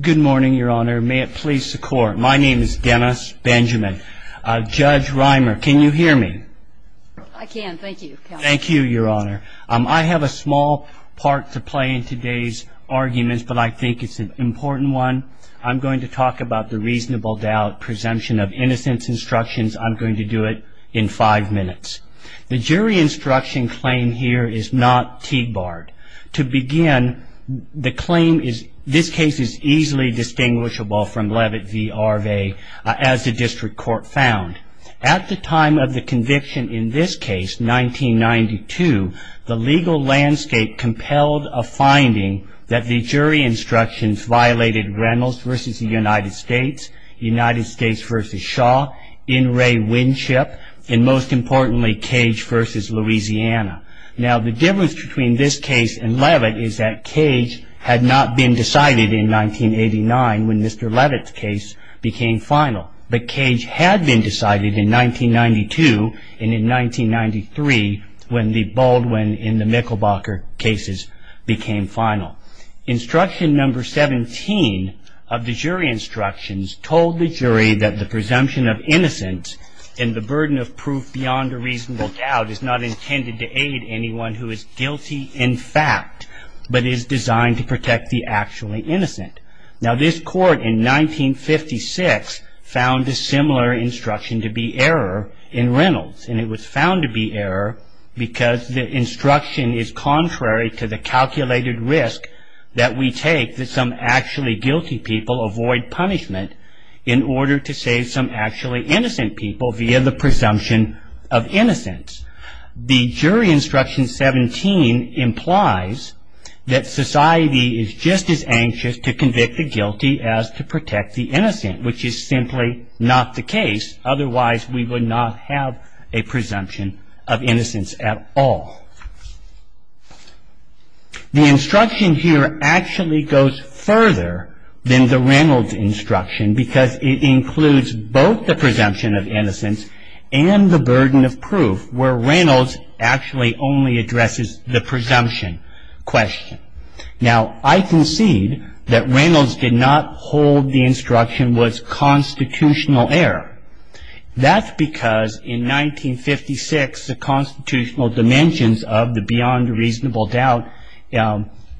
Good morning, Your Honor. May it please the Court, my name is Dennis Benjamin. Judge Reimer, can you hear me? I can, thank you. Thank you, Your Honor. I have a small part to play in today's arguments, but I think it's an important one. I'm going to talk about the reasonable doubt presumption of innocence instructions. I'm going to do it in five minutes. The jury instruction claim here is not Tiegbart. To begin, the claim is, this case is easily distinguishable from Levitt v. Arave as the District Court found. At the time of the conviction in this case, 1992, the legal landscape compelled a finding that the jury instructions violated Reynolds v. United States, United States v. Shaw, Inouye Winship, and most importantly, Cage v. Louisiana. Now, the difference between this case and Levitt is that Cage had not been decided in 1989 when Mr. Levitt's case became final. But Cage had been decided in 1992 and in 1993 when the Baldwin and the Michelbacher cases became final. Instruction number 17 of the jury instructions told the jury that the presumption of innocence and the burden of proof beyond a reasonable doubt is not intended to aid anyone who is guilty in fact, but is designed to protect the actually innocent. Now, this court in 1956 found a similar instruction to be error in Reynolds. And it was found to be error because the instruction is contrary to the calculated risk that we take that some actually guilty people avoid punishment in order to save some actually innocent people via the presumption of innocence. The jury instruction 17 implies that society is just as anxious to convict the guilty as to protect the innocent, which is simply not the case. Otherwise, we would not have a presumption of innocence at all. The instruction here actually goes further than the Reynolds instruction because it includes both the presumption of innocence and the burden of proof where Reynolds actually only addresses the presumption question. Now, I concede that Reynolds did not hold the instruction was constitutional error. That's because in 1956 the constitutional dimensions of the beyond reasonable doubt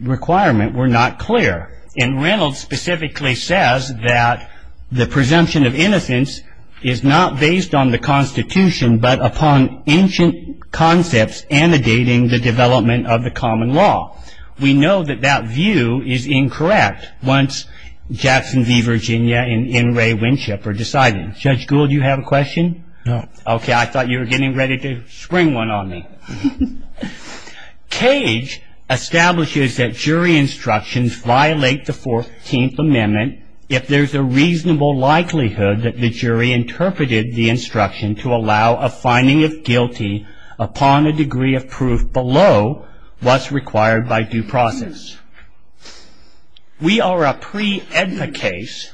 requirement were not clear. And Reynolds specifically says that the presumption of innocence is not based on the Constitution but upon ancient concepts annotating the development of the common law. We know that that view is incorrect once Jackson v. Virginia and N. Ray Winship are deciding. Judge Gould, do you have a question? No. Okay. I thought you were getting ready to spring one on me. Cage establishes that jury instructions violate the 14th Amendment if there's a reasonable likelihood that the jury interpreted the instruction to allow a finding of guilty upon a degree of proof below what's required by due process. We are a pre-AEDPA case.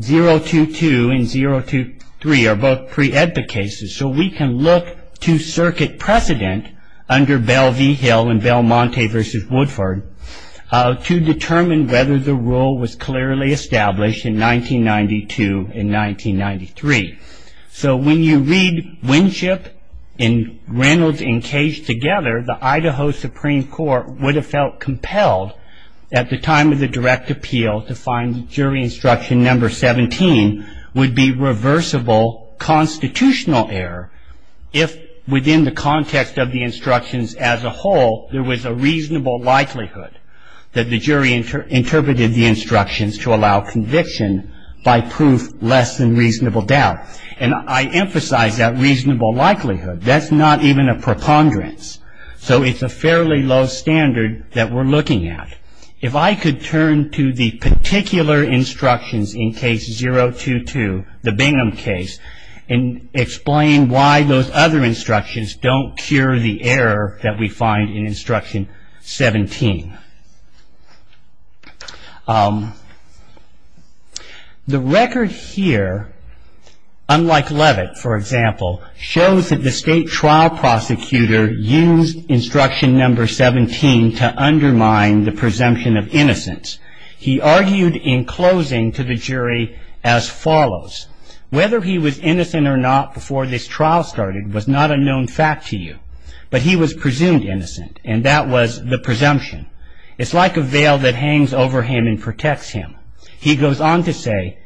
022 and 023 are both pre-AEDPA cases. So we can look to circuit precedent under Bell v. Hill and Belmonte v. Woodford to determine whether the rule was clearly established in 1992 and 1993. So when you read Winship and Reynolds and Cage together, the Idaho Supreme Court would have felt compelled at the time of the direct appeal to find jury instruction number 17 would be reversible constitutional error if within the context of the instructions as a whole there was a reasonable likelihood that the jury interpreted the instructions to allow conviction by proof less than reasonable doubt. And I emphasize that reasonable likelihood. That's not even a preponderance. So it's a fairly low standard that we're looking at. If I could turn to the particular instructions in case 022, the Bingham case, and explain why those other instructions don't cure the error that we find in instruction 17. The record here, unlike Levitt, for example, shows that the state trial prosecutor used instruction number 17 to undermine the presumption of innocence. He argued in closing to the jury as follows. Whether he was innocent or not before this trial started was not a known fact to you. But he was presumed innocent, and that was the presumption. It's like a veil that hangs over him and protects him. He goes on to say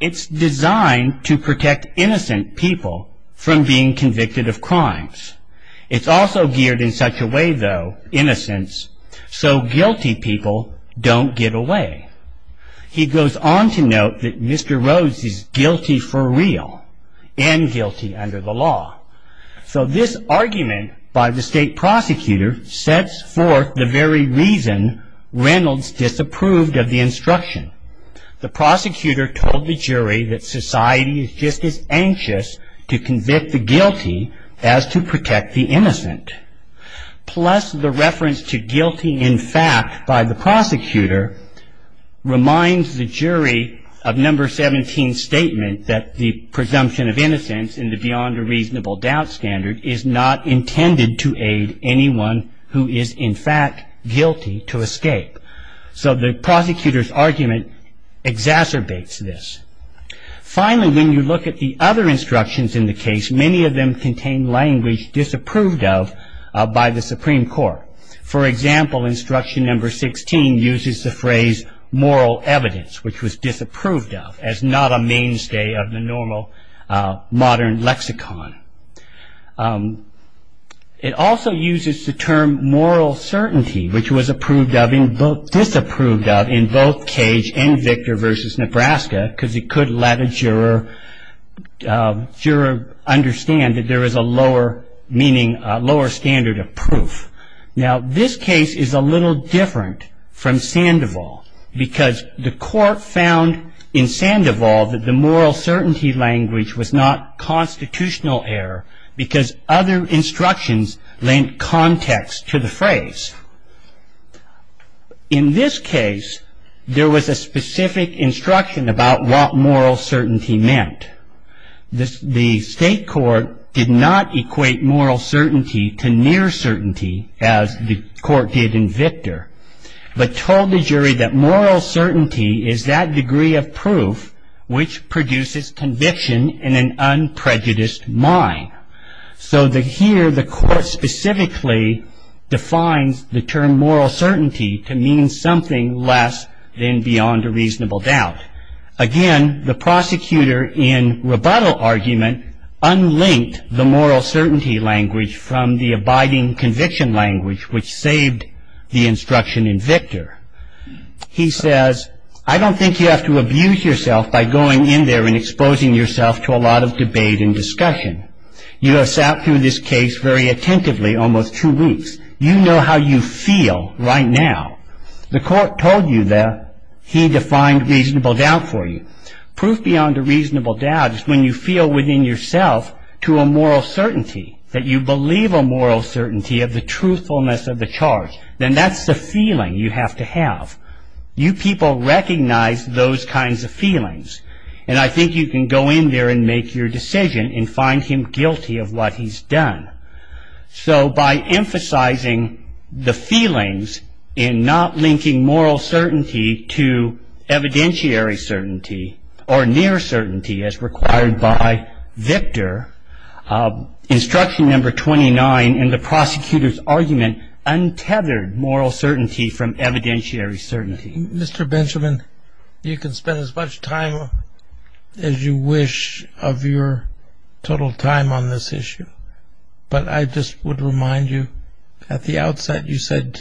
it's designed to protect innocent people from being convicted of crimes. It's also geared in such a way, though, innocence, so guilty people don't get away. He goes on to note that Mr. Rhodes is guilty for real, and guilty under the law. So this argument by the state prosecutor sets forth the very reason Reynolds disapproved of the instruction. The prosecutor told the jury that society is just as anxious to convict the guilty as to protect the innocent. Plus the reference to guilty in fact by the prosecutor reminds the jury of number 17's statement that the presumption of innocence in the beyond a reasonable doubt standard is not intended to aid anyone who is in fact guilty to escape. So the prosecutor's argument exacerbates this. Finally, when you look at the other instructions in the case, many of them contain language disapproved of by the Supreme Court. For example, instruction number 16 uses the phrase moral evidence, which was disapproved of as not a mainstay of the normal modern lexicon. It also uses the term moral certainty, which was disapproved of in both Cage and Victor v. Nebraska because it could let a juror understand that there is a lower meaning, a lower standard of proof. Now this case is a little different from Sandoval because the court found in Sandoval that the moral certainty language was not constitutional error because other instructions lent context to the phrase. In this case, there was a specific instruction about what moral certainty meant. The state court did not equate moral certainty to near certainty as the court did in Victor but told the jury that moral certainty is that degree of proof which produces conviction in an unprejudiced mind. So here the court specifically defines the term moral certainty to mean something less than beyond a reasonable doubt. Again, the prosecutor, in rebuttal argument, unlinked the moral certainty language from the abiding conviction language which saved the instruction in Victor. He says, I don't think you have to abuse yourself by going in there and exposing yourself to a lot of debate and discussion. You have sat through this case very attentively almost two weeks. You know how you feel right now. The court told you that he defined reasonable doubt for you. Proof beyond a reasonable doubt is when you feel within yourself to a moral certainty, that you believe a moral certainty of the truthfulness of the charge. Then that's the feeling you have to have. You people recognize those kinds of feelings and I think you can go in there and make your decision and find him guilty of what he's done. So by emphasizing the feelings and not linking moral certainty to evidentiary certainty or near certainty as required by Victor, instruction number 29 in the prosecutor's argument untethered moral certainty from evidentiary certainty. Mr. Benjamin, you can spend as much time as you wish of your total time on this issue, but I just would remind you at the outset you said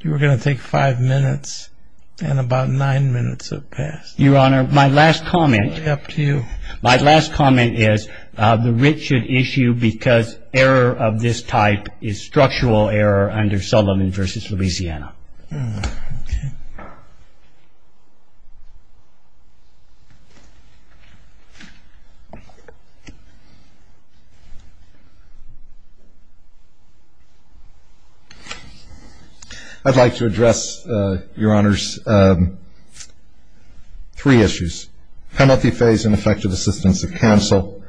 you were going to take five minutes and about nine minutes have passed. Your Honor, my last comment is the writ should issue because error of this type is structural error under Sullivan v. Louisiana. I'd like to address, Your Honors, three issues. Penalty phase and effective assistance of counsel,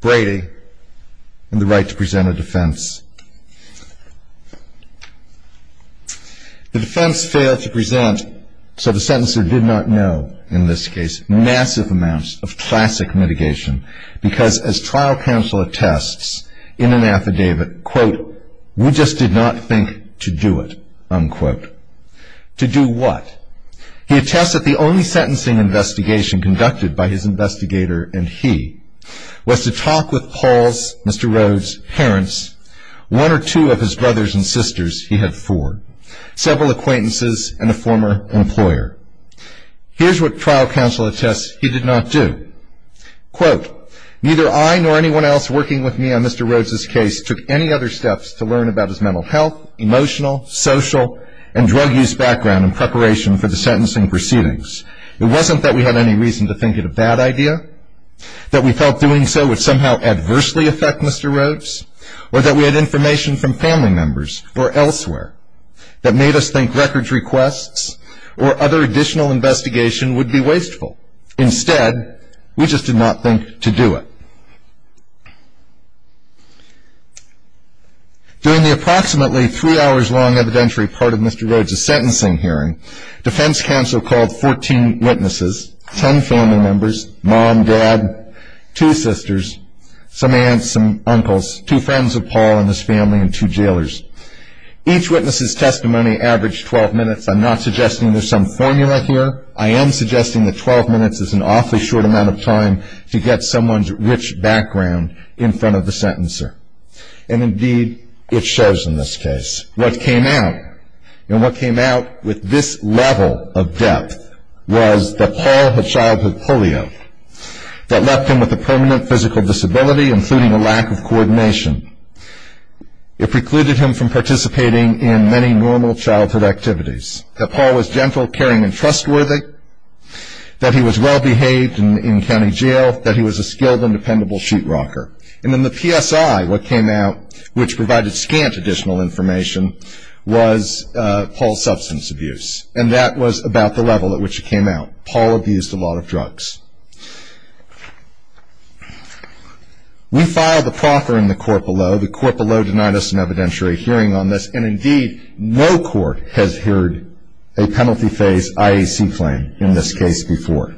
Brady, and the right to present a defense. The defense failed to present, so the sentencer did not know in this case, massive amounts of classic mitigation because as trial counsel attests in an affidavit, quote, we just did not think to do it, unquote. To do what? He attests that the only sentencing investigation conducted by his investigator and he was to talk with Paul's, Mr. Rhodes' parents, one or two of his brothers and sisters, he had four, several acquaintances and a former employer. Here's what trial counsel attests he did not do. Quote, neither I nor anyone else working with me on Mr. Rhodes' case took any other steps to learn about his mental health, emotional, social, and drug use background in preparation for the sentencing proceedings. It wasn't that we had any reason to think it a bad idea, that we felt doing so would somehow adversely affect Mr. Rhodes, or that we had information from family members or elsewhere that made us think records requests or other additional investigation would be wasteful. Instead, we just did not think to do it. During the approximately three hours long evidentiary part of Mr. Rhodes' sentencing hearing, defense counsel called 14 witnesses, 10 family members, mom, dad, two sisters, some aunts, some uncles, two friends of Paul and his family, and two jailers. Each witness' testimony averaged 12 minutes. I'm not suggesting there's some formula here. I am suggesting that 12 minutes is an awfully short amount of time to get someone's rich background in front of the sentencer. And indeed, it shows in this case. What came out, and what came out with this level of depth, was that Paul had childhood polio. That left him with a permanent physical disability, including a lack of coordination. It precluded him from participating in many normal childhood activities. That Paul was gentle, caring, and trustworthy. That he was well behaved in county jail. That he was a skilled and dependable sheet rocker. And then the PSI, what came out, which provided scant additional information, was Paul's substance abuse. And that was about the level at which it came out. Paul abused a lot of drugs. We filed a proffer in the court below. The court below denied us an evidentiary hearing on this. And indeed, no court has heard a penalty phase IAC claim in this case before.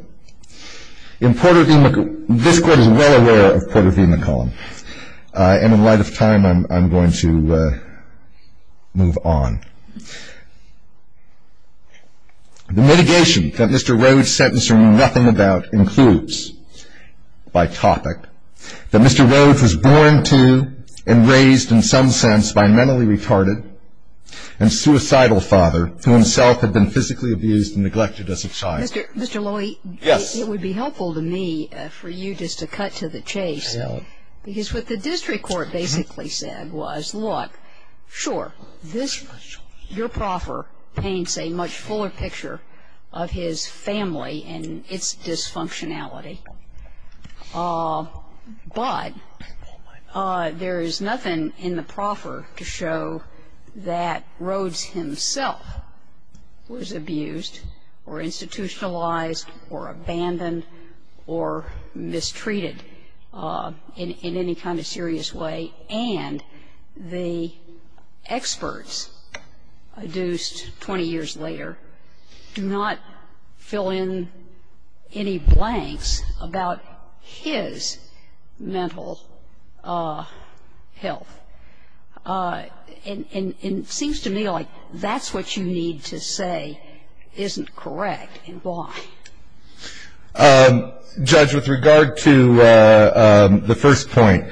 In Porter V. McCollum, this Court is well aware of Porter V. McCollum. And in light of time, I'm going to move on. The mitigation that Mr. Rhoades' sentencing means nothing about includes, by topic, that Mr. Rhoades was born to and raised in some sense by a mentally retarded and suicidal father who himself had been physically abused and neglected as a child. Mr. Lowy, it would be helpful to me for you just to cut to the chase. Because what the district court basically said was, look, sure, your proffer paints a much fuller picture of his family and its dysfunctionality. But there is nothing in the proffer to show that Rhoades himself was abused or institutionalized or abandoned or mistreated in any kind of serious way, and the experts adduced 20 years later do not fill in any blanks about his mental health. And it seems to me like that's what you need to say isn't correct, and why. Judge, with regard to the first point,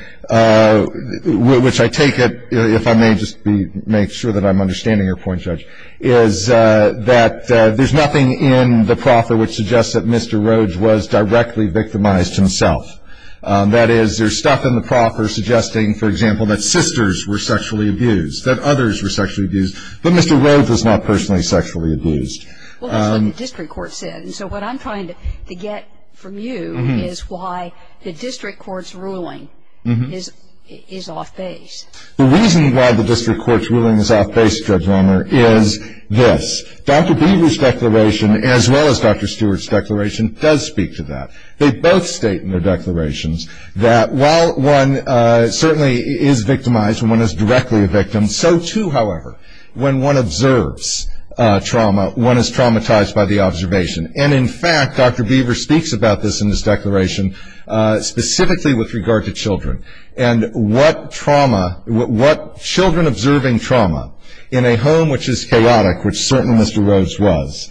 which I take it, if I may just make sure that I'm understanding your point, Judge, is that there's nothing in the proffer which suggests that Mr. Rhoades was directly victimized himself. That is, there's stuff in the proffer suggesting, for example, that sisters were sexually abused, that others were sexually abused, but Mr. Rhoades was not personally sexually abused. Well, that's what the district court said. And so what I'm trying to get from you is why the district court's ruling is off base. The reason why the district court's ruling is off base, Judge Romner, is this. Dr. Beaver's declaration, as well as Dr. Stewart's declaration, does speak to that. They both state in their declarations that while one certainly is victimized and one is directly a victim, so too, however, when one observes trauma, one is traumatized by the observation. And, in fact, Dr. Beaver speaks about this in his declaration specifically with regard to children and what trauma, what children observing trauma in a home which is chaotic, which certainly Mr. Rhoades was,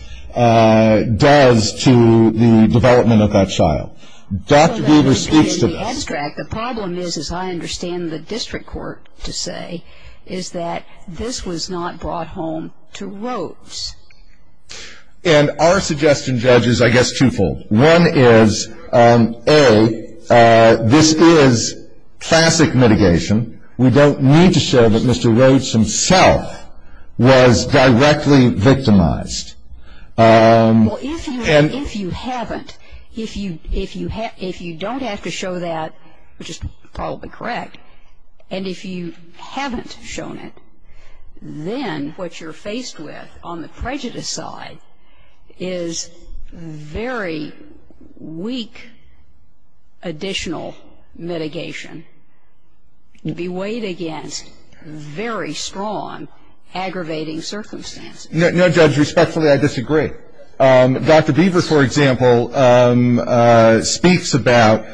does to the development of that child. Dr. Beaver speaks to this. The problem is, as I understand the district court to say, is that this was not brought home to Rhoades. And our suggestion, Judge, is, I guess, twofold. One is, A, this is classic mitigation. We don't need to show that Mr. Rhoades himself was directly victimized. Well, if you haven't, if you don't have to show that, which is probably correct, and if you haven't shown it, then what you're faced with on the prejudice side is very weak additional mitigation beweighed against very strong aggravating circumstances. No, Judge, respectfully, I disagree. Dr. Beaver, for example, speaks about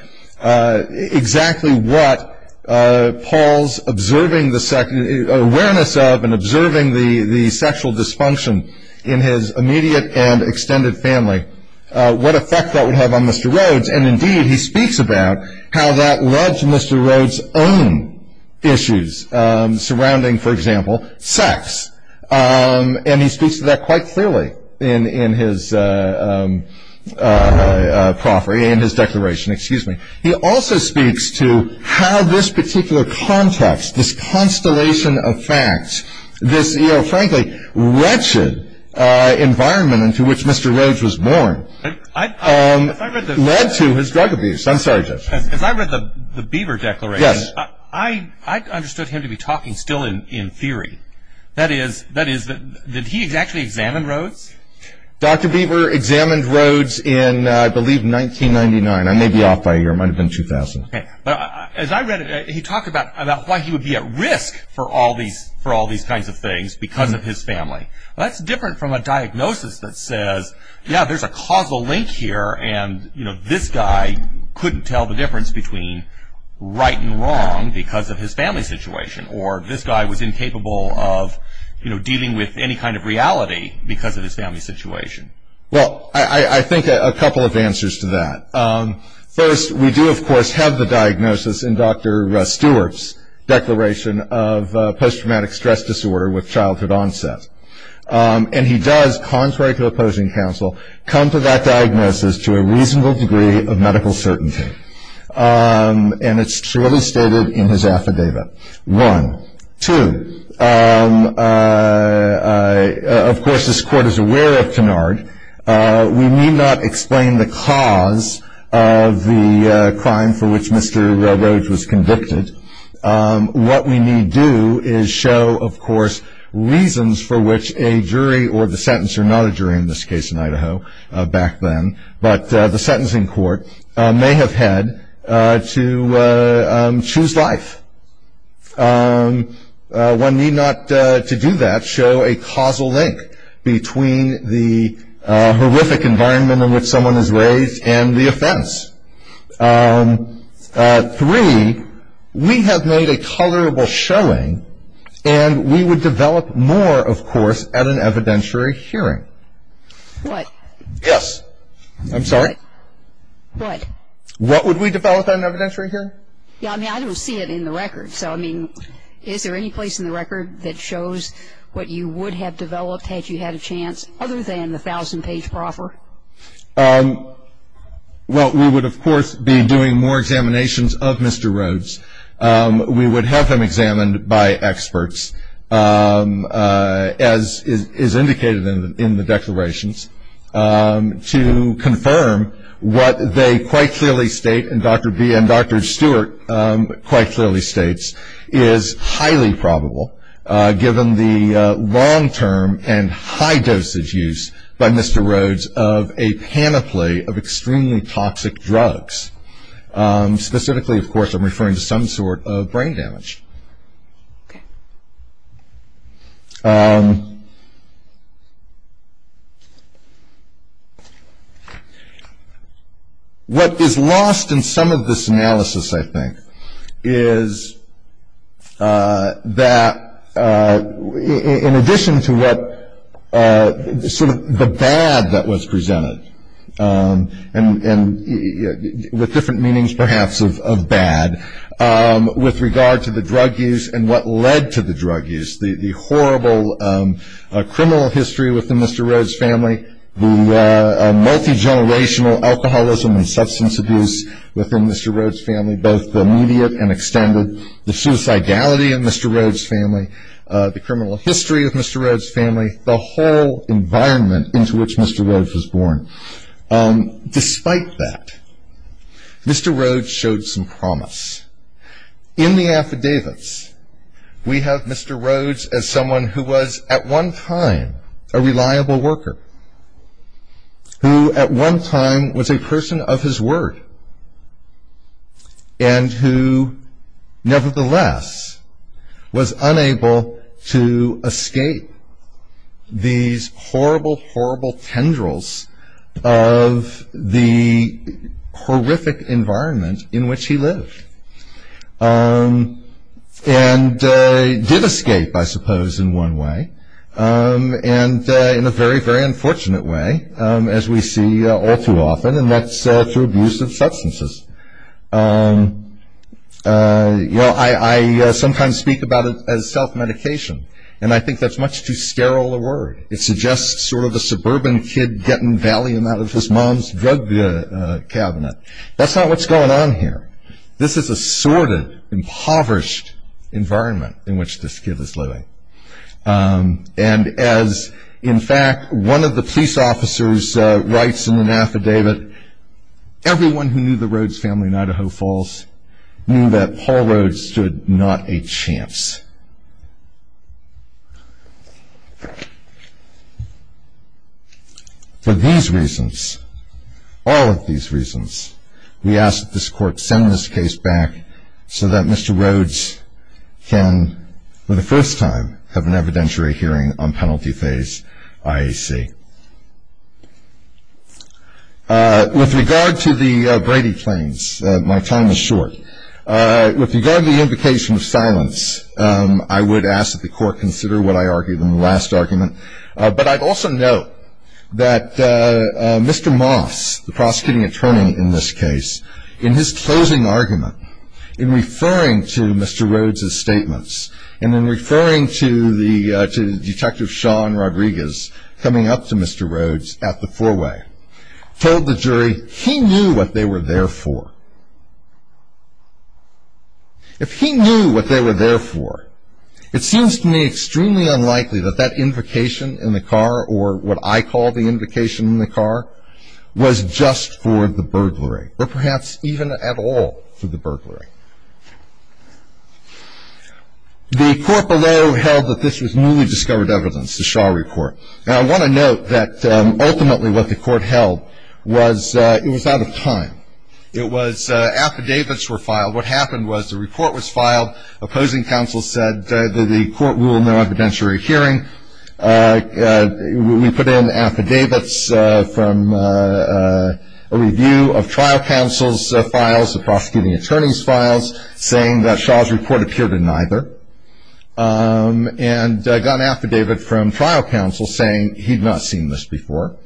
exactly what Paul's awareness of and observing the sexual dysfunction in his immediate and extended family, what effect that would have on Mr. Rhoades. And, indeed, he speaks about how that led to Mr. Rhoades' own issues surrounding, for example, sex. And he speaks to that quite clearly in his proffering, in his declaration. Excuse me. He also speaks to how this particular context, this constellation of facts, this, you know, frankly, wretched environment into which Mr. Rhoades was born led to his drug abuse. I'm sorry, Judge. As I read the Beaver declaration, I understood him to be talking still in theory. That is, did he actually examine Rhoades? Dr. Beaver examined Rhoades in, I believe, 1999. I may be off by a year. It might have been 2000. Okay. As I read it, he talked about why he would be at risk for all these kinds of things because of his family. Well, that's different from a diagnosis that says, yeah, there's a causal link here, and, you know, this guy couldn't tell the difference between right and wrong because of his family situation, or this guy was incapable of, you know, dealing with any kind of reality because of his family situation. Well, I think a couple of answers to that. First, we do, of course, have the diagnosis in Dr. Stewart's declaration of post-traumatic stress disorder with childhood onset. And he does, contrary to opposing counsel, come to that diagnosis to a reasonable degree of medical certainty. And it's truly stated in his affidavit. One. Two. Of course, this Court is aware of Kennard. We need not explain the cause of the crime for which Mr. Rhoades was convicted. What we need do is show, of course, reasons for which a jury or the sentencer, not a jury in this case in Idaho back then, but the sentencing court, may have had to choose life. One need not, to do that, show a causal link between the horrific environment in which someone is raised and the offense. Three, we have made a colorable showing, and we would develop more, of course, at an evidentiary hearing. What? Yes. I'm sorry. What? What would we develop at an evidentiary hearing? Yeah, I mean, I don't see it in the record. So, I mean, is there any place in the record that shows what you would have developed had you had a chance, other than the 1,000-page proffer? Well, we would, of course, be doing more examinations of Mr. Rhoades. We would have him examined by experts, as is indicated in the declarations, to confirm what they quite clearly state, and Dr. B and Dr. Stewart quite clearly states, is highly probable, given the long-term and high-dose use by Mr. Rhoades of a panoply of extremely toxic drugs. Specifically, of course, I'm referring to some sort of brain damage. What is lost in some of this analysis, I think, is that in addition to what sort of the bad that was presented, and with different meanings, perhaps, of bad, with regard to the drug use and what led to the drug use, the horrible criminal history within Mr. Rhoades' family, the multi-generational alcoholism and substance abuse within Mr. Rhoades' family, both the immediate and extended, the suicidality of Mr. Rhoades' family, the criminal history of Mr. Rhoades' family, the whole environment into which Mr. Rhoades was born, despite that, Mr. Rhoades showed some promise. In the affidavits, we have Mr. Rhoades as someone who was at one time a reliable worker, who at one time was a person of his word, and who nevertheless was unable to escape these horrible, horrible tendrils of the horrific environment in which he lived. And did escape, I suppose, in one way, and in a very, very unfortunate way, as we see all too often, and that's through abuse of substances. You know, I sometimes speak about it as self-medication, and I think that's much too sterile a word. It suggests sort of a suburban kid getting valium out of his mom's drug cabinet. That's not what's going on here. This is a sordid, impoverished environment in which this kid was living. And as, in fact, one of the police officers writes in an affidavit, everyone who knew the Rhoades family in Idaho Falls knew that Paul Rhoades stood not a chance. For these reasons, all of these reasons, we ask that this court send this case back so that Mr. Rhoades can, for the first time, have an evidentiary hearing on penalty phase IAC. With regard to the Brady claims, my time is short. With regard to the invocation of silence, I would ask that the court consider what I argued in the last argument. But I'd also note that Mr. Moss, the prosecuting attorney in this case, in his closing argument, in referring to Mr. Rhoades' statements, and in referring to Detective Sean Rodriguez coming up to Mr. Rhoades at the four-way, told the jury he knew what they were there for. If he knew what they were there for, it seems to me extremely unlikely that that invocation in the car, or what I call the invocation in the car, was just for the burglary, or perhaps even at all for the burglary. The court below held that this was newly discovered evidence, the Shaw Report. Now, I want to note that ultimately what the court held was it was out of time. It was affidavits were filed. What happened was the report was filed. Opposing counsel said that the court ruled no evidentiary hearing. We put in affidavits from a review of trial counsel's files, the prosecuting attorney's files, saying that Shaw's report appeared in neither, and got an affidavit from trial counsel saying he'd not seen this before.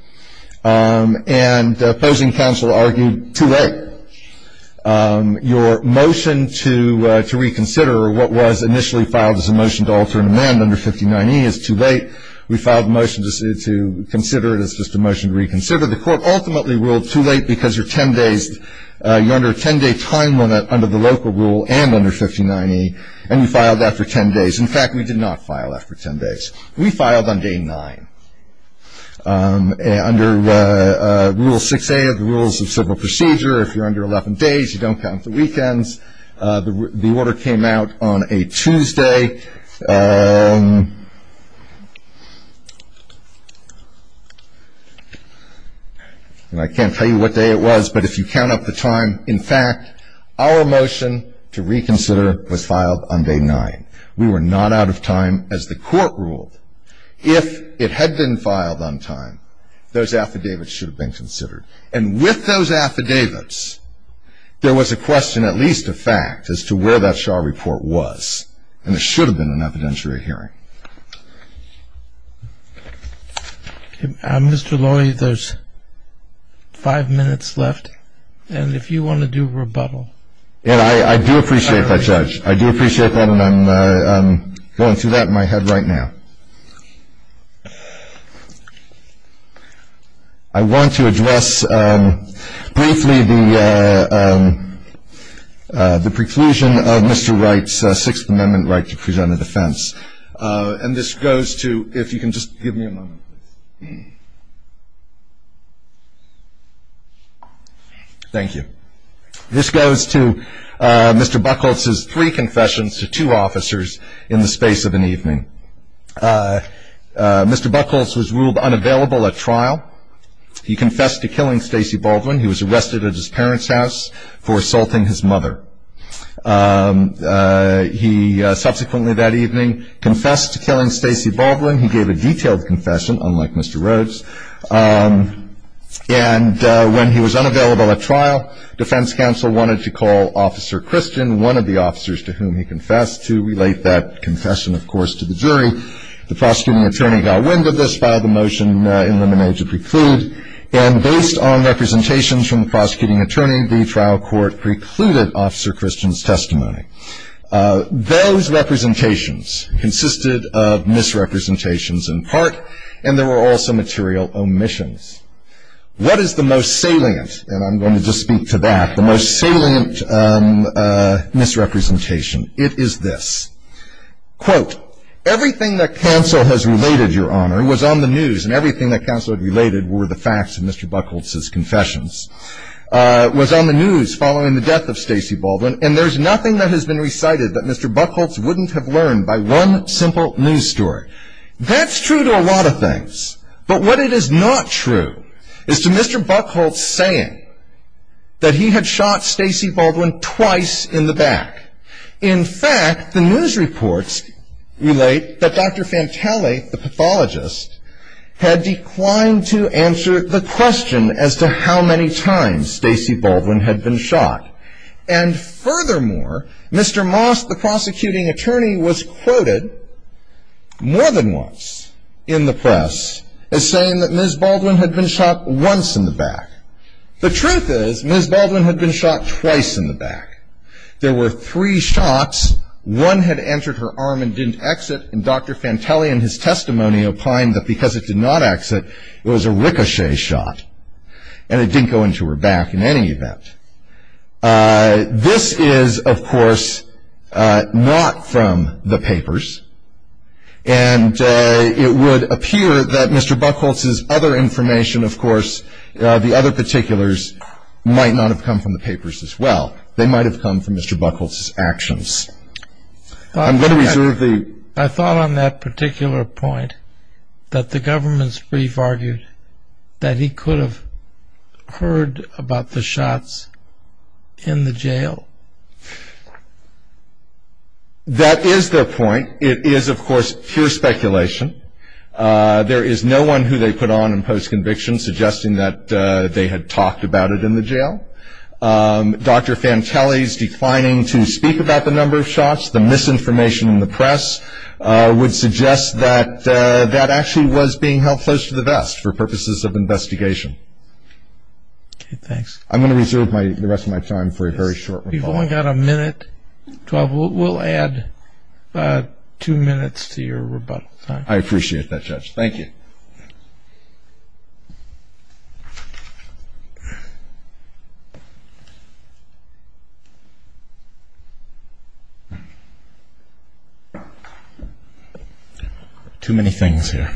And opposing counsel argued too late. Your motion to reconsider what was initially filed as a motion to alter an amendment under 59E is too late. We filed a motion to consider it as just a motion to reconsider. The court ultimately ruled too late because you're 10 days, you're under a 10-day time limit under the local rule and under 59E, and you filed that for 10 days. In fact, we did not file that for 10 days. We filed on day nine. Under Rule 6A of the Rules of Civil Procedure, if you're under 11 days, you don't count the weekends. The order came out on a Tuesday. I can't tell you what day it was, but if you count up the time, in fact, our motion to reconsider was filed on day nine. We were not out of time, as the court ruled. If it had been filed on time, those affidavits should have been considered. And with those affidavits, there was a question, at least a fact, as to where that Shaw report was. And there should have been an evidentiary hearing. Mr. Lawley, there's five minutes left, and if you want to do rebuttal. I do appreciate that, Judge. I do appreciate that, and I'm going through that in my head right now. I want to address briefly the preclusion of Mr. Wright's Sixth Amendment right to present a defense. And this goes to, if you can just give me a moment, please. Thank you. This goes to Mr. Buchholz's three confessions to two officers in the space of an evening. Mr. Buchholz was ruled unavailable at trial. He confessed to killing Stacey Baldwin. He was arrested at his parents' house for assaulting his mother. He subsequently that evening confessed to killing Stacey Baldwin. He gave a detailed confession, unlike Mr. Rhodes. And when he was unavailable at trial, defense counsel wanted to call Officer Christian, one of the officers to whom he confessed, to relate that confession, of course, to the jury. The prosecuting attorney got wind of this by the motion in the major preclude. And based on representations from the prosecuting attorney, the trial court precluded Officer Christian's testimony. Those representations consisted of misrepresentations in part, and there were also material omissions. What is the most salient, and I'm going to just speak to that, the most salient misrepresentation? It is this. Quote, everything that counsel has related, Your Honor, was on the news, and everything that counsel had related were the facts of Mr. Buchholz's confessions, was on the news following the death of Stacey Baldwin, and there's nothing that has been recited that Mr. Buchholz wouldn't have learned by one simple news story. That's true to a lot of things. But what it is not true is to Mr. Buchholz saying that he had shot Stacey Baldwin twice in the back. In fact, the news reports relate that Dr. Fantelli, the pathologist, had declined to answer the question as to how many times Stacey Baldwin had been shot. And furthermore, Mr. Moss, the prosecuting attorney, was quoted more than once in the press as saying that Ms. Baldwin had been shot once in the back. The truth is Ms. Baldwin had been shot twice in the back. There were three shots. One had entered her arm and didn't exit, and Dr. Fantelli in his testimony opined that because it did not exit, it was a ricochet shot, and it didn't go into her back in any event. This is, of course, not from the papers, and it would appear that Mr. Buchholz's other information, of course, the other particulars, might not have come from the papers as well. They might have come from Mr. Buchholz's actions. I thought on that particular point that the government's brief argued that he could have heard about the shots in the jail. That is their point. It is, of course, pure speculation. There is no one who they put on in post-conviction suggesting that they had talked about it in the jail. Dr. Fantelli's declining to speak about the number of shots, the misinformation in the press, would suggest that that actually was being held close to the vest for purposes of investigation. Okay, thanks. I'm going to reserve the rest of my time for a very short rebuttal. You've only got a minute. We'll add two minutes to your rebuttal time. I appreciate that, Judge. Thank you. Too many things here.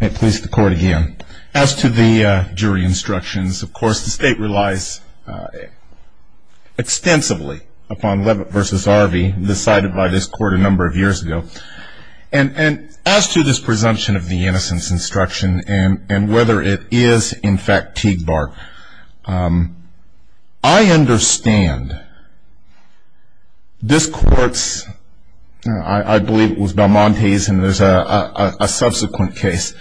May it please the Court again. As to the jury instructions, of course, the State relies extensively upon Levitt v. Arvey, decided by this Court a number of years ago. And as to this presumption of the innocence instruction and whether it is, in fact, Teague Bark, I understand this Court's, I believe it was Balmonte's, and there's a subsequent case,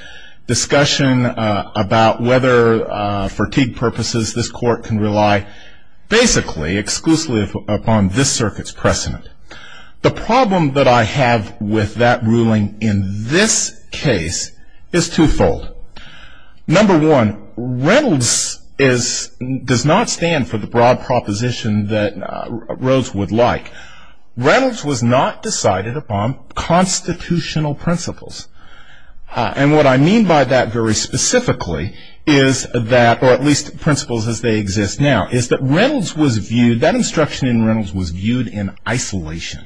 discussion about whether, for Teague purposes, this Court can rely basically exclusively upon this circuit's precedent. The problem that I have with that ruling in this case is twofold. Number one, Reynolds does not stand for the broad proposition that Rhodes would like. Reynolds was not decided upon constitutional principles. And what I mean by that very specifically is that, or at least principles as they exist now, is that Reynolds was viewed, that instruction in Reynolds was viewed in isolation.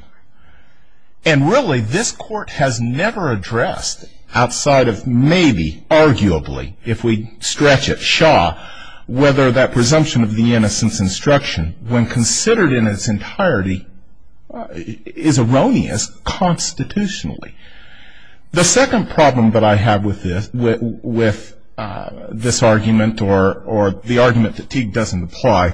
And really, this Court has never addressed outside of maybe, arguably, if we stretch it, Shaw, whether that presumption of the innocence instruction, when considered in its entirety, is erroneous constitutionally. The second problem that I have with this argument, or the argument that Teague doesn't apply,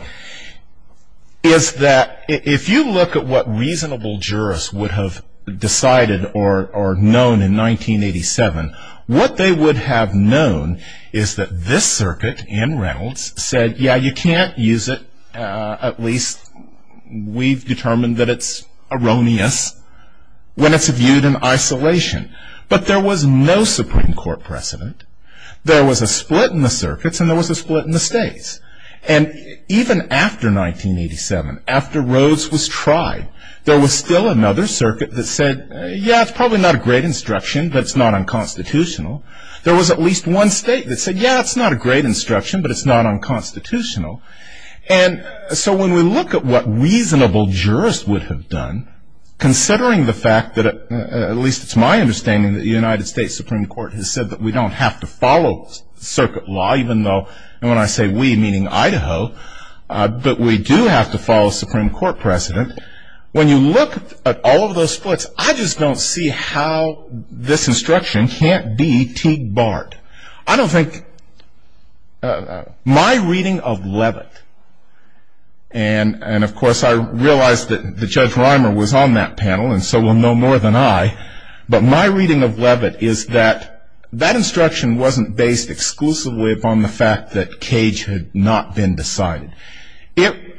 is that if you look at what reasonable jurists would have decided or known in 1987, what they would have known is that this circuit in Reynolds said, yeah, you can't use it. At least we've determined that it's erroneous. When it's viewed in isolation. But there was no Supreme Court precedent. There was a split in the circuits, and there was a split in the states. And even after 1987, after Rhodes was tried, there was still another circuit that said, yeah, it's probably not a great instruction, but it's not unconstitutional. There was at least one state that said, yeah, it's not a great instruction, but it's not unconstitutional. And so when we look at what reasonable jurists would have done, considering the fact that, at least it's my understanding, that the United States Supreme Court has said that we don't have to follow circuit law, even though when I say we, meaning Idaho, but we do have to follow Supreme Court precedent. When you look at all of those splits, I just don't see how this instruction can't be Teague-Bart. I don't think my reading of Levitt, and, of course, I realize that Judge Reimer was on that panel and so will know more than I. But my reading of Levitt is that that instruction wasn't based exclusively upon the fact that Teague had not been decided.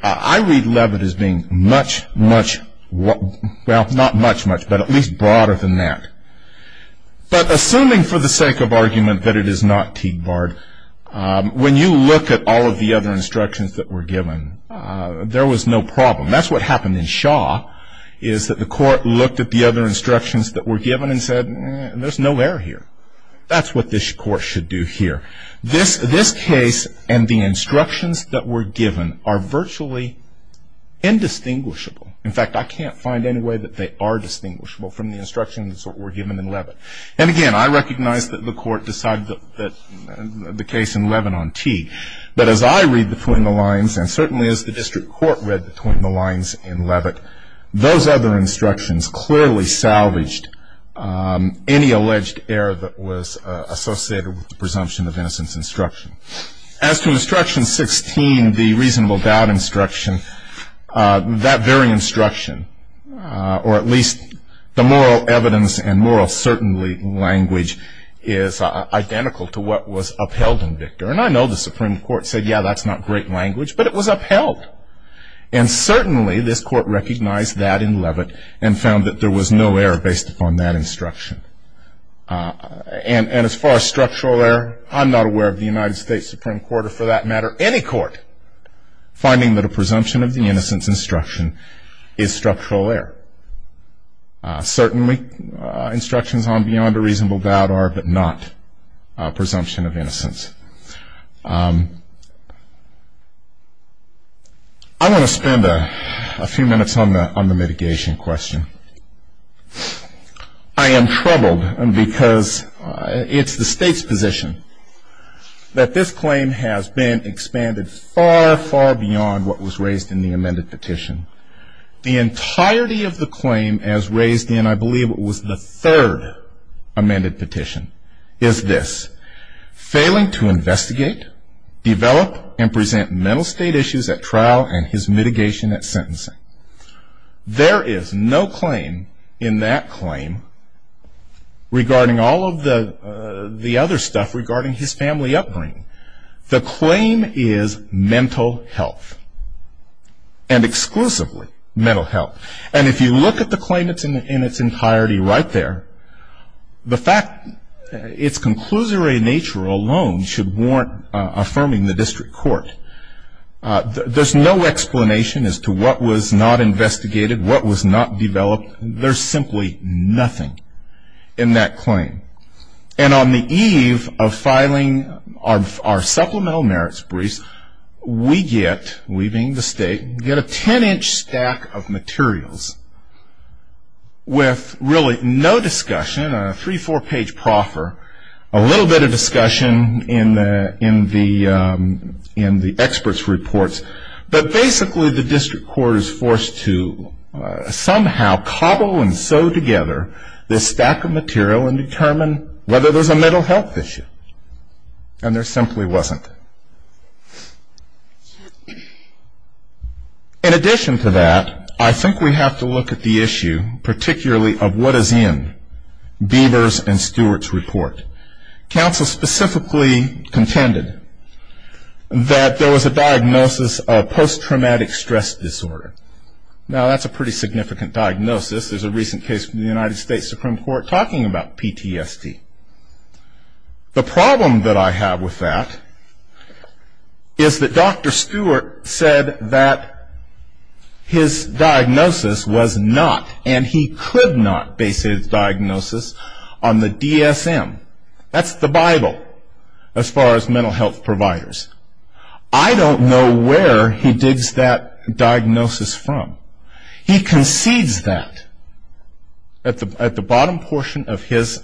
I read Levitt as being much, much, well, not much, much, but at least broader than that. But assuming for the sake of argument that it is not Teague-Bart, when you look at all of the other instructions that were given, there was no problem. That's what happened in Shaw, is that the court looked at the other instructions that were given and said, there's no error here. That's what this court should do here. This case and the instructions that were given are virtually indistinguishable. In fact, I can't find any way that they are distinguishable from the instructions that were given in Levitt. And, again, I recognize that the court decided that the case in Levitt on Teague. But as I read between the lines, and certainly as the district court read between the lines in Levitt, those other instructions clearly salvaged any alleged error that was associated with the presumption of innocence instruction. As to instruction 16, the reasonable doubt instruction, that very instruction, or at least the moral evidence and moral certainty language, is identical to what was upheld in Victor. And I know the Supreme Court said, yeah, that's not great language, but it was upheld. And certainly this court recognized that in Levitt and found that there was no error based upon that instruction. And as far as structural error, I'm not aware of the United States Supreme Court, or for that matter any court, finding that a presumption of the innocence instruction is structural error. Certainly instructions on beyond a reasonable doubt are, but not a presumption of innocence. I want to spend a few minutes on the mitigation question. I am troubled because it's the state's position that this claim has been expanded far, far beyond what was raised in the amended petition. The entirety of the claim as raised in, I believe it was the third amended petition, is this. Failing to investigate, develop, and present mental state issues at trial and his mitigation at sentencing. There is no claim in that claim regarding all of the other stuff regarding his family upbringing. The claim is mental health, and exclusively mental health. And if you look at the claim in its entirety right there, the fact, its conclusory nature alone should warrant affirming the district court. There's no explanation as to what was not investigated, what was not developed. There's simply nothing in that claim. And on the eve of filing our supplemental merits briefs, we get, we being the state, get a 10-inch stack of materials with really no discussion, a three, four-page proffer, a little bit of discussion in the expert's reports. But basically the district court is forced to somehow cobble and sew together this stack of material and determine whether there's a mental health issue. And there simply wasn't. In addition to that, I think we have to look at the issue, particularly of what is in Beavers and Stewart's report. Counsel specifically contended that there was a diagnosis of post-traumatic stress disorder. Now, that's a pretty significant diagnosis. There's a recent case from the United States Supreme Court talking about PTSD. The problem that I have with that is that Dr. Stewart said that his diagnosis was not, and he could not base his diagnosis on the DSM. That's the Bible as far as mental health providers. I don't know where he digs that diagnosis from. He concedes that at the bottom portion of his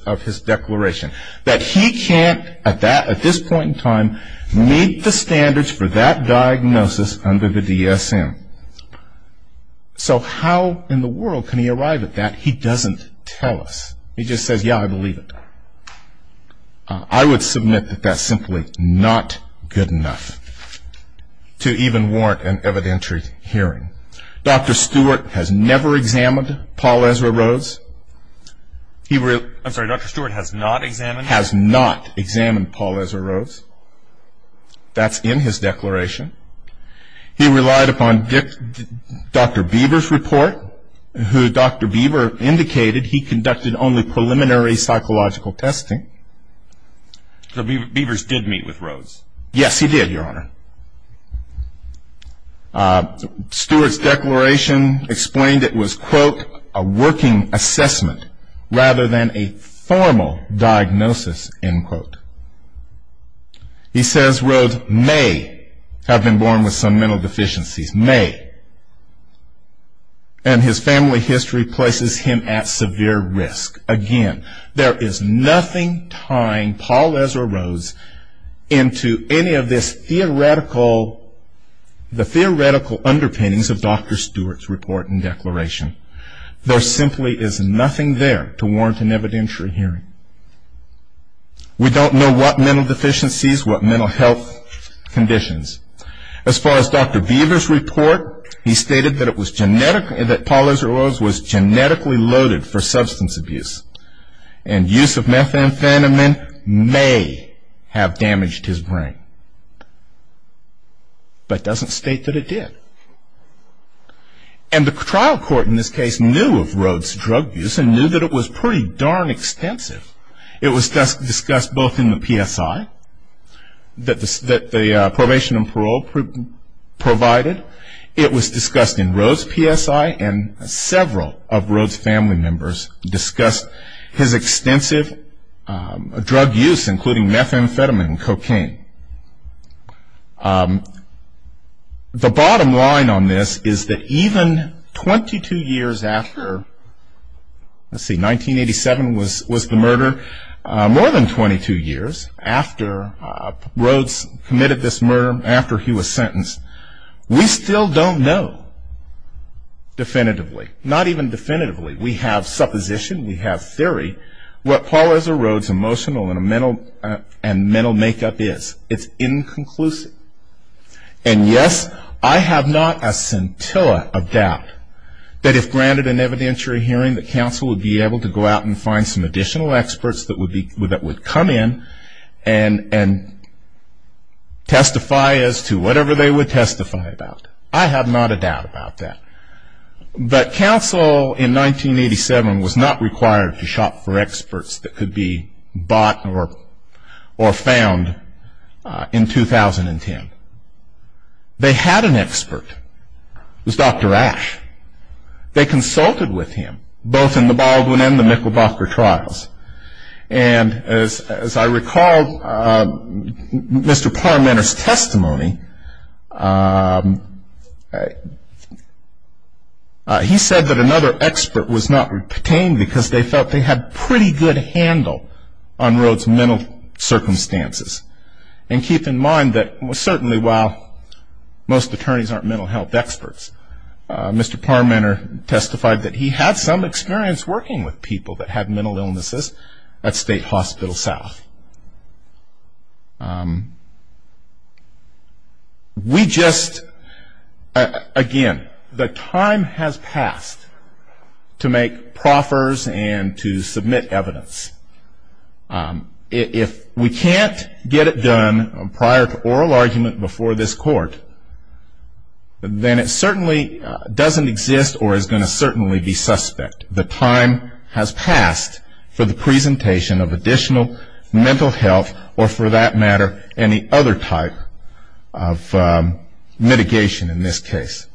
declaration, that he can't at this point in time meet the standards for that diagnosis under the DSM. So how in the world can he arrive at that? He doesn't tell us. He just says, yeah, I believe it. I would submit that that's simply not good enough to even warrant an evidentiary hearing. Dr. Stewart has never examined Paul Ezra Rhodes. I'm sorry, Dr. Stewart has not examined? Has not examined Paul Ezra Rhodes. That's in his declaration. He relied upon Dr. Beaver's report, who Dr. Beaver indicated he conducted only preliminary psychological testing. So Beaver's did meet with Rhodes? Yes, he did, Your Honor. Stewart's declaration explained it was, quote, He says Rhodes may have been born with some mental deficiencies. May. And his family history places him at severe risk. Again, there is nothing tying Paul Ezra Rhodes into any of this theoretical, the theoretical underpinnings of Dr. Stewart's report and declaration. There simply is nothing there to warrant an evidentiary hearing. We don't know what mental deficiencies, what mental health conditions. As far as Dr. Beaver's report, he stated that Paul Ezra Rhodes was genetically loaded for substance abuse and use of methamphetamine may have damaged his brain, but doesn't state that it did. And the trial court in this case knew of Rhodes' drug use and knew that it was pretty darn extensive. It was discussed both in the PSI that the probation and parole provided. It was discussed in Rhodes' PSI, and several of Rhodes' family members discussed his extensive drug use, including methamphetamine and cocaine. The bottom line on this is that even 22 years after, let's see, 1987 was the murder, more than 22 years after Rhodes committed this murder, after he was sentenced, we still don't know definitively. Not even definitively. We have supposition. We have theory. What Paul Ezra Rhodes' emotional and mental makeup is, it's inconclusive. And yes, I have not a scintilla of doubt that if granted an evidentiary hearing, that counsel would be able to go out and find some additional experts that would come in and testify as to whatever they would testify about. I have not a doubt about that. But counsel in 1987 was not required to shop for experts that could be bought or found in 2010. They had an expert. It was Dr. Ash. They consulted with him, both in the Baldwin and the Michelbacher trials. And as I recall, Mr. Parmenter's testimony, he said that another expert was not retained because they felt they had pretty good handle on Rhodes' mental circumstances. And keep in mind that certainly while most attorneys aren't mental health experts, Mr. Parmenter testified that he had some experience working with people that had mental illnesses at State Hospital South. We just, again, the time has passed to make proffers and to submit evidence. If we can't get it done prior to oral argument before this court, then it certainly doesn't exist or is going to certainly be suspect. The time has passed for the presentation of additional mental health or for that matter any other type of mitigation in this case.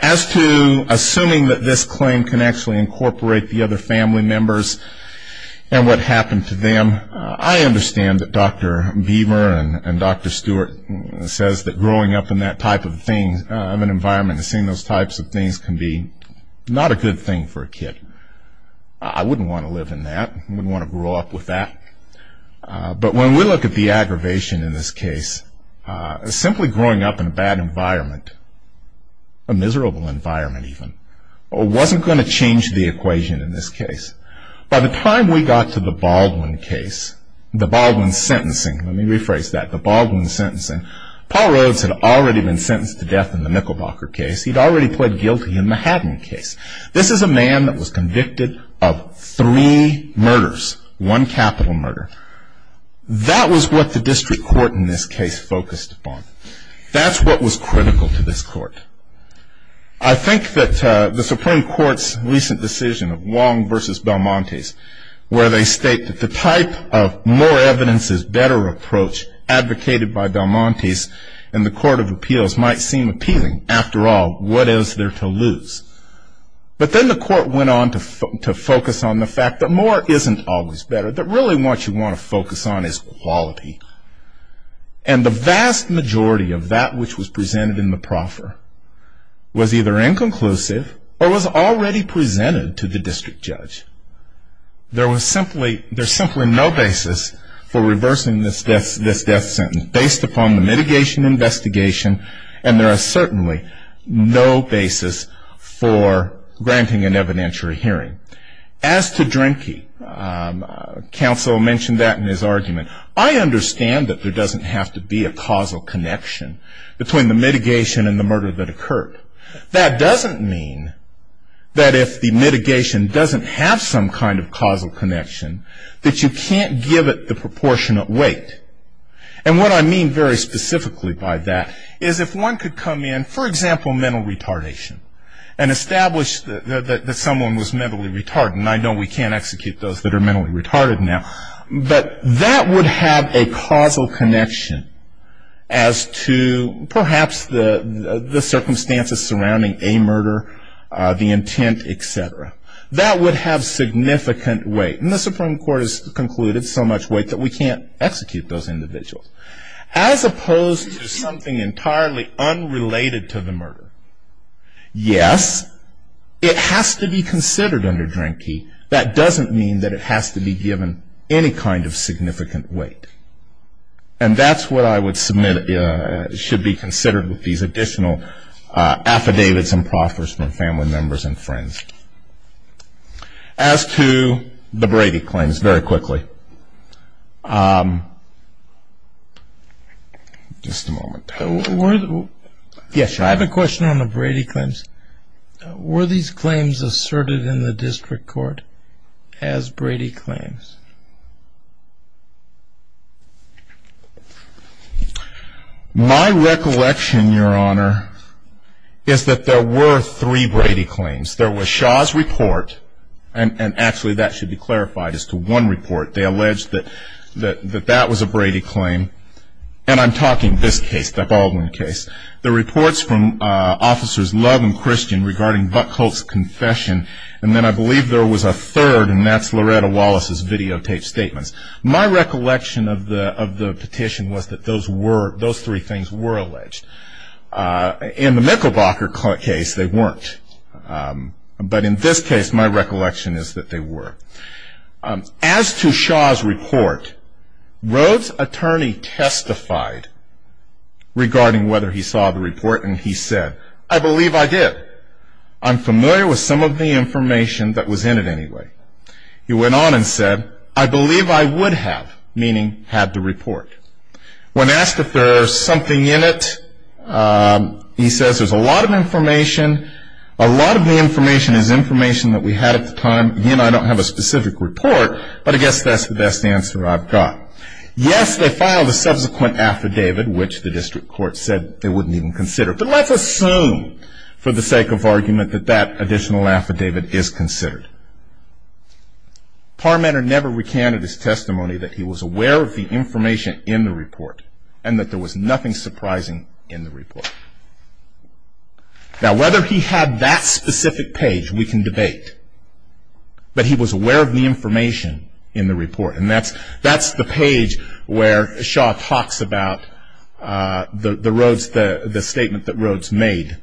As to assuming that this claim can actually incorporate the other family members and what happened to them, I understand that Dr. Beamer and Dr. Stewart says that growing up in that type of thing, seeing those types of things can be not a good thing for a kid. I wouldn't want to live in that. I wouldn't want to grow up with that. But when we look at the aggravation in this case, simply growing up in a bad environment, a miserable environment even, wasn't going to change the equation in this case. By the time we got to the Baldwin case, the Baldwin sentencing, let me rephrase that, Paul Rhodes had already been sentenced to death in the Nickelbacker case. He'd already pled guilty in the Haddon case. This is a man that was convicted of three murders, one capital murder. That was what the district court in this case focused upon. That's what was critical to this court. I think that the Supreme Court's recent decision of Wong versus Belmonte's where they state that the type of more evidence is better approach advocated by Belmonte's and the court of appeals might seem appealing. After all, what is there to lose? But then the court went on to focus on the fact that more isn't always better, that really what you want to focus on is quality. And the vast majority of that which was presented in the proffer was either inconclusive or was already presented to the district judge. There was simply no basis for reversing this death sentence based upon the mitigation investigation and there is certainly no basis for granting an evidentiary hearing. As to Drenke, counsel mentioned that in his argument. I understand that there doesn't have to be a causal connection between the mitigation and the murder that occurred. That doesn't mean that if the mitigation doesn't have some kind of causal connection that you can't give it the proportionate weight. And what I mean very specifically by that is if one could come in, for example, mental retardation and establish that someone was mentally retarded, and I know we can't execute those that are mentally retarded now, but that would have a causal connection as to perhaps the circumstances surrounding a murder, the intent, etc. That would have significant weight. And the Supreme Court has concluded so much weight that we can't execute those individuals. As opposed to something entirely unrelated to the murder. Yes, it has to be considered under Drenke. That doesn't mean that it has to be given any kind of significant weight. And that's what I would submit should be considered with these additional affidavits and proffers from family members and friends. As to the Brady claims, very quickly. Just a moment. I have a question on the Brady claims. Were these claims asserted in the district court as Brady claims? My recollection, Your Honor, is that there were three Brady claims. There was Shaw's report, and actually that should be clarified as to one report. They alleged that that was a Brady claim. And I'm talking this case, the Baldwin case. The reports from officers Love and Christian regarding Buckholtz's confession. And then I believe there was a third, and that's Loretta Wallace's videotaped statements. My recollection of the petition was that those three things were alleged. In the Michelbacher case, they weren't. But in this case, my recollection is that they were. As to Shaw's report, Rhodes' attorney testified regarding whether he saw the report, and he said, I believe I did. I'm familiar with some of the information that was in it anyway. He went on and said, I believe I would have, meaning had the report. When asked if there was something in it, he says there's a lot of information. A lot of the information is information that we had at the time. Again, I don't have a specific report, but I guess that's the best answer I've got. Yes, they filed a subsequent affidavit, which the district court said they wouldn't even consider. But let's assume, for the sake of argument, that that additional affidavit is considered. Parmenter never recanted his testimony that he was aware of the information in the report Now, whether he had that specific page, we can debate. But he was aware of the information in the report. And that's the page where Shaw talks about the statement that Rhodes made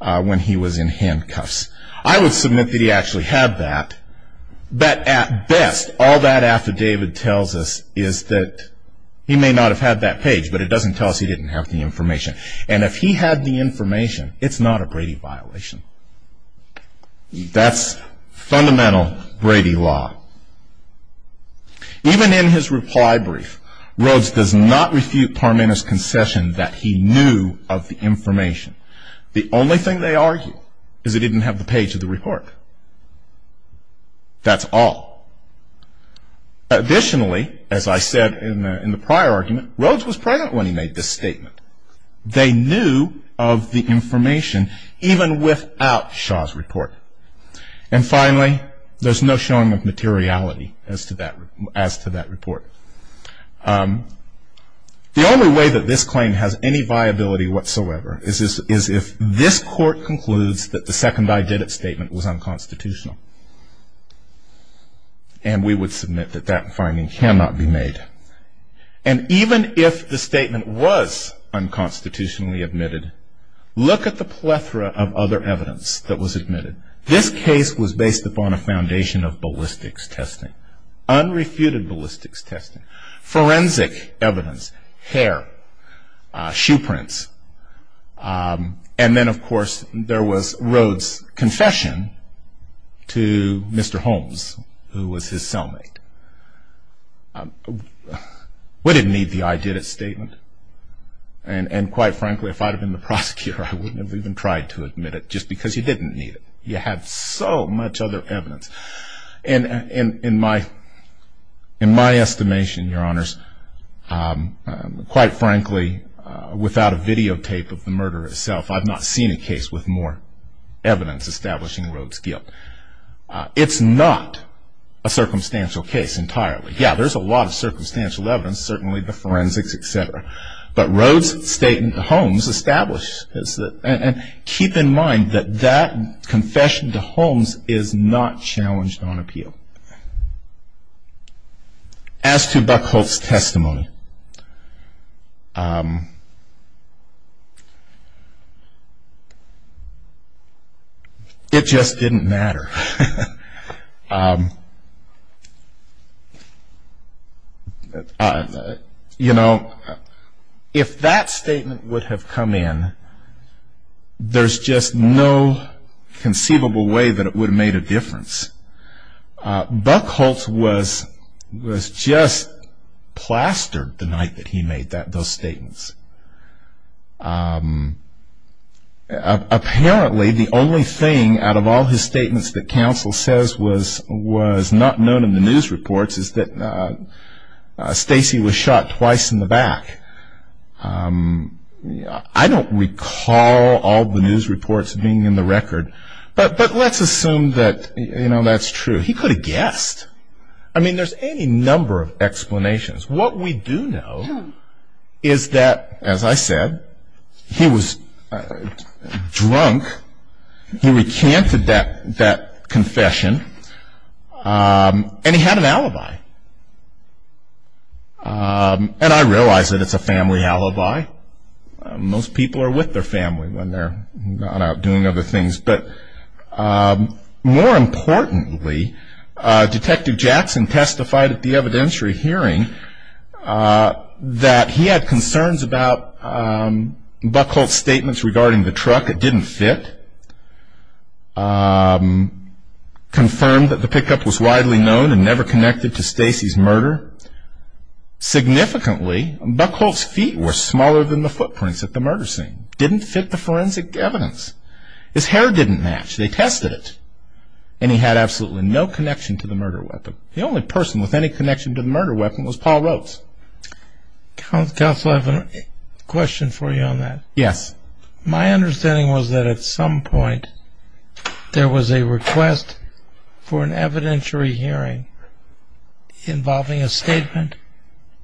when he was in handcuffs. I would submit that he actually had that. But at best, all that affidavit tells us is that he may not have had that page, but it doesn't tell us he didn't have the information. And if he had the information, it's not a Brady violation. That's fundamental Brady law. Even in his reply brief, Rhodes does not refute Parmenter's concession that he knew of the information. The only thing they argue is that he didn't have the page of the report. That's all. Additionally, as I said in the prior argument, Rhodes was present when he made this statement. They knew of the information even without Shaw's report. And finally, there's no showing of materiality as to that report. The only way that this claim has any viability whatsoever is if this court concludes that the second I did it statement was unconstitutional. And we would submit that that finding cannot be made. And even if the statement was unconstitutionally admitted, look at the plethora of other evidence that was admitted. This case was based upon a foundation of ballistics testing, unrefuted ballistics testing, forensic evidence, hair, shoe prints. And then, of course, there was Rhodes' confession to Mr. Holmes, who was his cellmate. We didn't need the I did it statement. And quite frankly, if I had been the prosecutor, I wouldn't have even tried to admit it just because you didn't need it. You have so much other evidence. And in my estimation, Your Honors, quite frankly, without a videotape of the murder itself, I've not seen a case with more evidence establishing Rhodes' guilt. It's not a circumstantial case entirely. Yeah, there's a lot of circumstantial evidence, certainly the forensics, et cetera. But Rhodes' statement to Holmes established. And keep in mind that that confession to Holmes is not challenged on appeal. As to Buckholtz's testimony, it just didn't matter. You know, if that statement would have come in, there's just no conceivable way that it would have made a difference. Buckholtz was just plastered the night that he made those statements. Apparently, the only thing out of all his statements that counsel says was not known in the news reports is that Stacy was shot twice in the back. I don't recall all the news reports being in the record. But let's assume that, you know, that's true. He could have guessed. What we do know is that, as I said, he was drunk. He recanted that confession. And he had an alibi. And I realize that it's a family alibi. Most people are with their family when they're gone out doing other things. But more importantly, Detective Jackson testified at the evidentiary hearing that he had concerns about Buckholtz's statements regarding the truck. It didn't fit. Confirmed that the pickup was widely known and never connected to Stacy's murder. Significantly, Buckholtz's feet were smaller than the footprints at the murder scene. Didn't fit the forensic evidence. His hair didn't match. They tested it. And he had absolutely no connection to the murder weapon. The only person with any connection to the murder weapon was Paul Rhoades. Counsel, I have a question for you on that. Yes. My understanding was that at some point there was a request for an evidentiary hearing involving a statement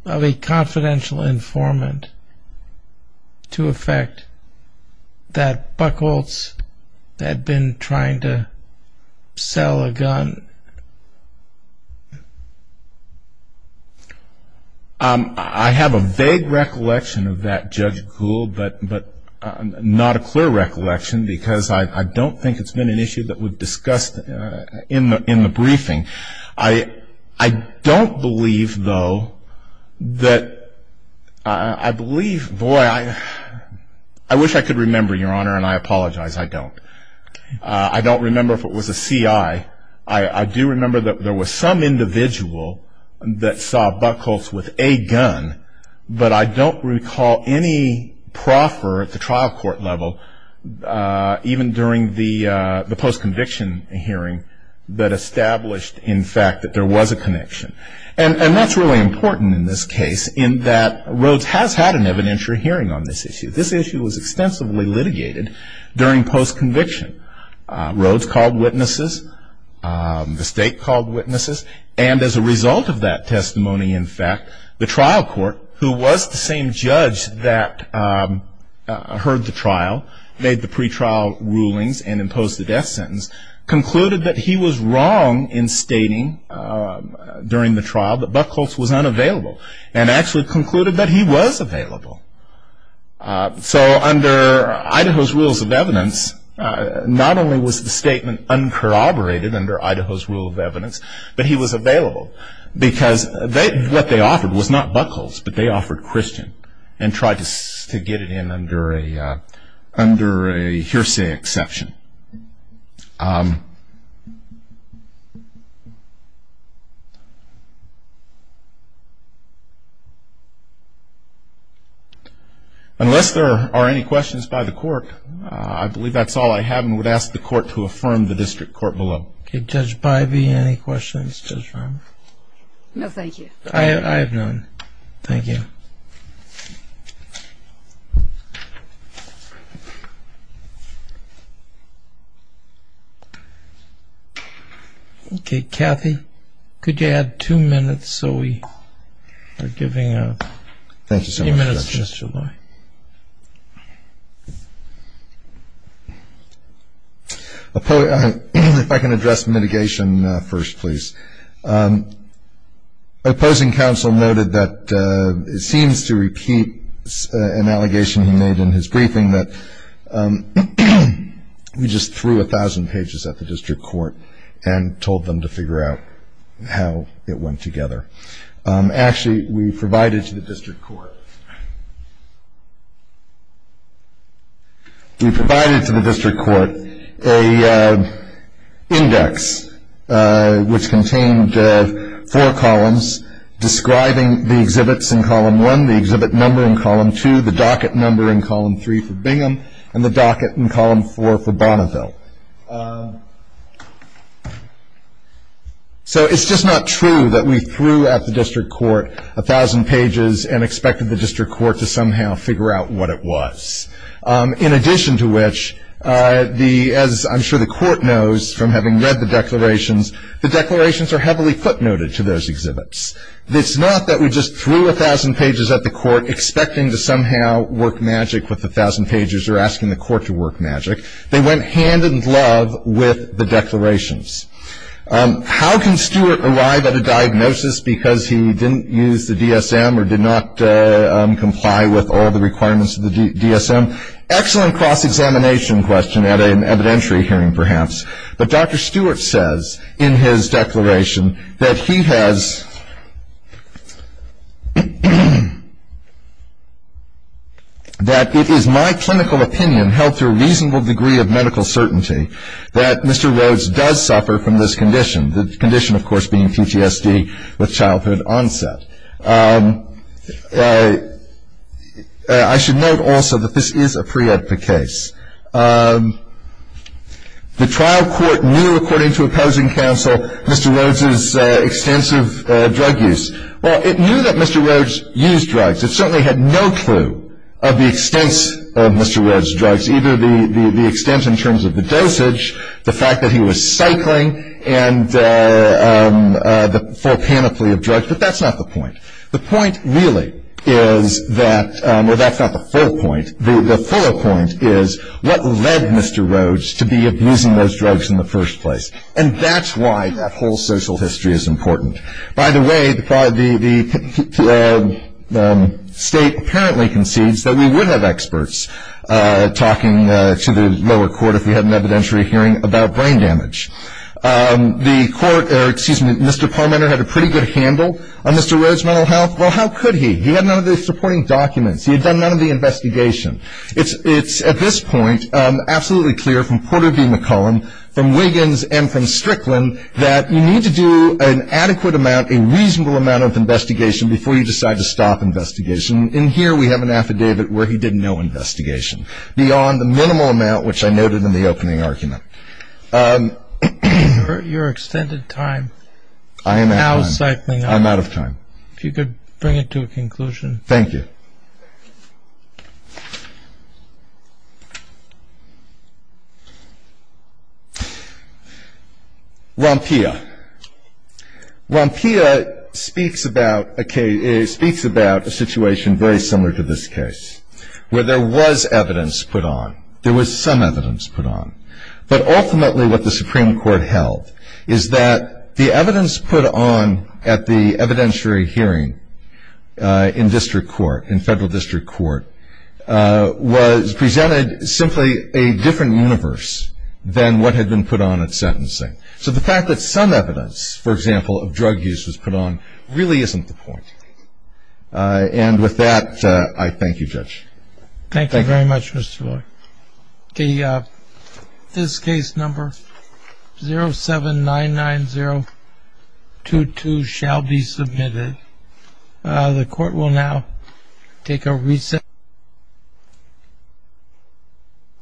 of a confidential informant to effect that Buckholtz had been trying to sell a gun. I have a vague recollection of that, Judge Gould, but not a clear recollection because I don't think it's been an issue that we've discussed in the briefing. I don't believe, though, that I believe, boy, I wish I could remember, Your Honor, and I apologize, I don't. I don't remember if it was a CI. I do remember that there was some individual that saw Buckholtz with a gun, but I don't recall any proffer at the trial court level, even during the post-conviction hearing that established, in fact, that there was a connection. And that's really important in this case in that Rhoades has had an evidentiary hearing on this issue. This issue was extensively litigated during post-conviction. Rhoades called witnesses. The State called witnesses. And as a result of that testimony, in fact, the trial court, who was the same judge that heard the trial, made the pretrial rulings and imposed the death sentence, concluded that he was wrong in stating during the trial that Buckholtz was unavailable and actually concluded that he was available. So under Idaho's rules of evidence, not only was the statement uncorroborated under Idaho's rule of evidence, but he was available because what they offered was not Buckholtz, but they offered Christian and tried to get it in under a hearsay exception. Unless there are any questions by the court, I believe that's all I have, and would ask the court to affirm the district court below. Okay, Judge Bivey, any questions? No, thank you. I have none. Thank you. Okay, Kathy, could you add two minutes so we are giving three minutes to Mr. Loy? Okay. If I can address mitigation first, please. Opposing counsel noted that it seems to repeat an allegation he made in his briefing that we just threw 1,000 pages at the district court and told them to figure out how it went together. Actually, we provided to the district court. We provided to the district court an index which contained four columns describing the exhibits in column one, the exhibit number in column two, the docket number in column three for Bingham, and the docket in column four for Bonneville. So it's just not true that we threw at the district court 1,000 pages and expected the district court to somehow figure out what it was. In addition to which, as I'm sure the court knows from having read the declarations, the declarations are heavily footnoted to those exhibits. It's not that we just threw 1,000 pages at the court expecting to somehow work magic with 1,000 pages or asking the court to work magic. They went hand-in-glove with the declarations. How can Stewart arrive at a diagnosis because he didn't use the DSM or did not comply with all the requirements of the DSM? Excellent cross-examination question at an evidentiary hearing, perhaps. But Dr. Stewart says in his declaration that he has, that it is my clinical opinion held to a reasonable degree of medical certainty that Mr. Rhodes does suffer from this condition, the condition, of course, being PTSD with childhood onset. I should note also that this is a pre-emptive case. The trial court knew, according to opposing counsel, Mr. Rhodes' extensive drug use. Well, it knew that Mr. Rhodes used drugs. It certainly had no clue of the extents of Mr. Rhodes' drugs, either the extent in terms of the dosage, the fact that he was cycling, and the full panoply of drugs. But that's not the point. The point really is that, well, that's not the full point. The fuller point is what led Mr. Rhodes to be abusing those drugs in the first place. And that's why that whole social history is important. By the way, the State apparently concedes that we wouldn't have experts talking to the lower court if we had an evidentiary hearing about brain damage. The court, or excuse me, Mr. Parmenter had a pretty good handle on Mr. Rhodes' mental health. Well, how could he? He had none of the supporting documents. He had done none of the investigation. It's, at this point, absolutely clear from Porter v. McCollum, from Wiggins, and from Strickland, that you need to do an adequate amount, a reasonable amount of investigation, before you decide to stop investigation. And here we have an affidavit where he did no investigation, beyond the minimal amount which I noted in the opening argument. Your extended time. I am out of time. Now cycling up. I'm out of time. If you could bring it to a conclusion. Thank you. Rompia. Rompia speaks about a situation very similar to this case, where there was evidence put on. There was some evidence put on. But ultimately what the Supreme Court held is that the evidence put on at the evidentiary hearing in district court, in federal district court, was presented simply a different universe than what had been put on at sentencing. So the fact that some evidence, for example, of drug use was put on, really isn't the point. And with that, I thank you, Judge. Thank you very much, Mr. Loy. This case number 0799022 shall be submitted. The court will now take a recess.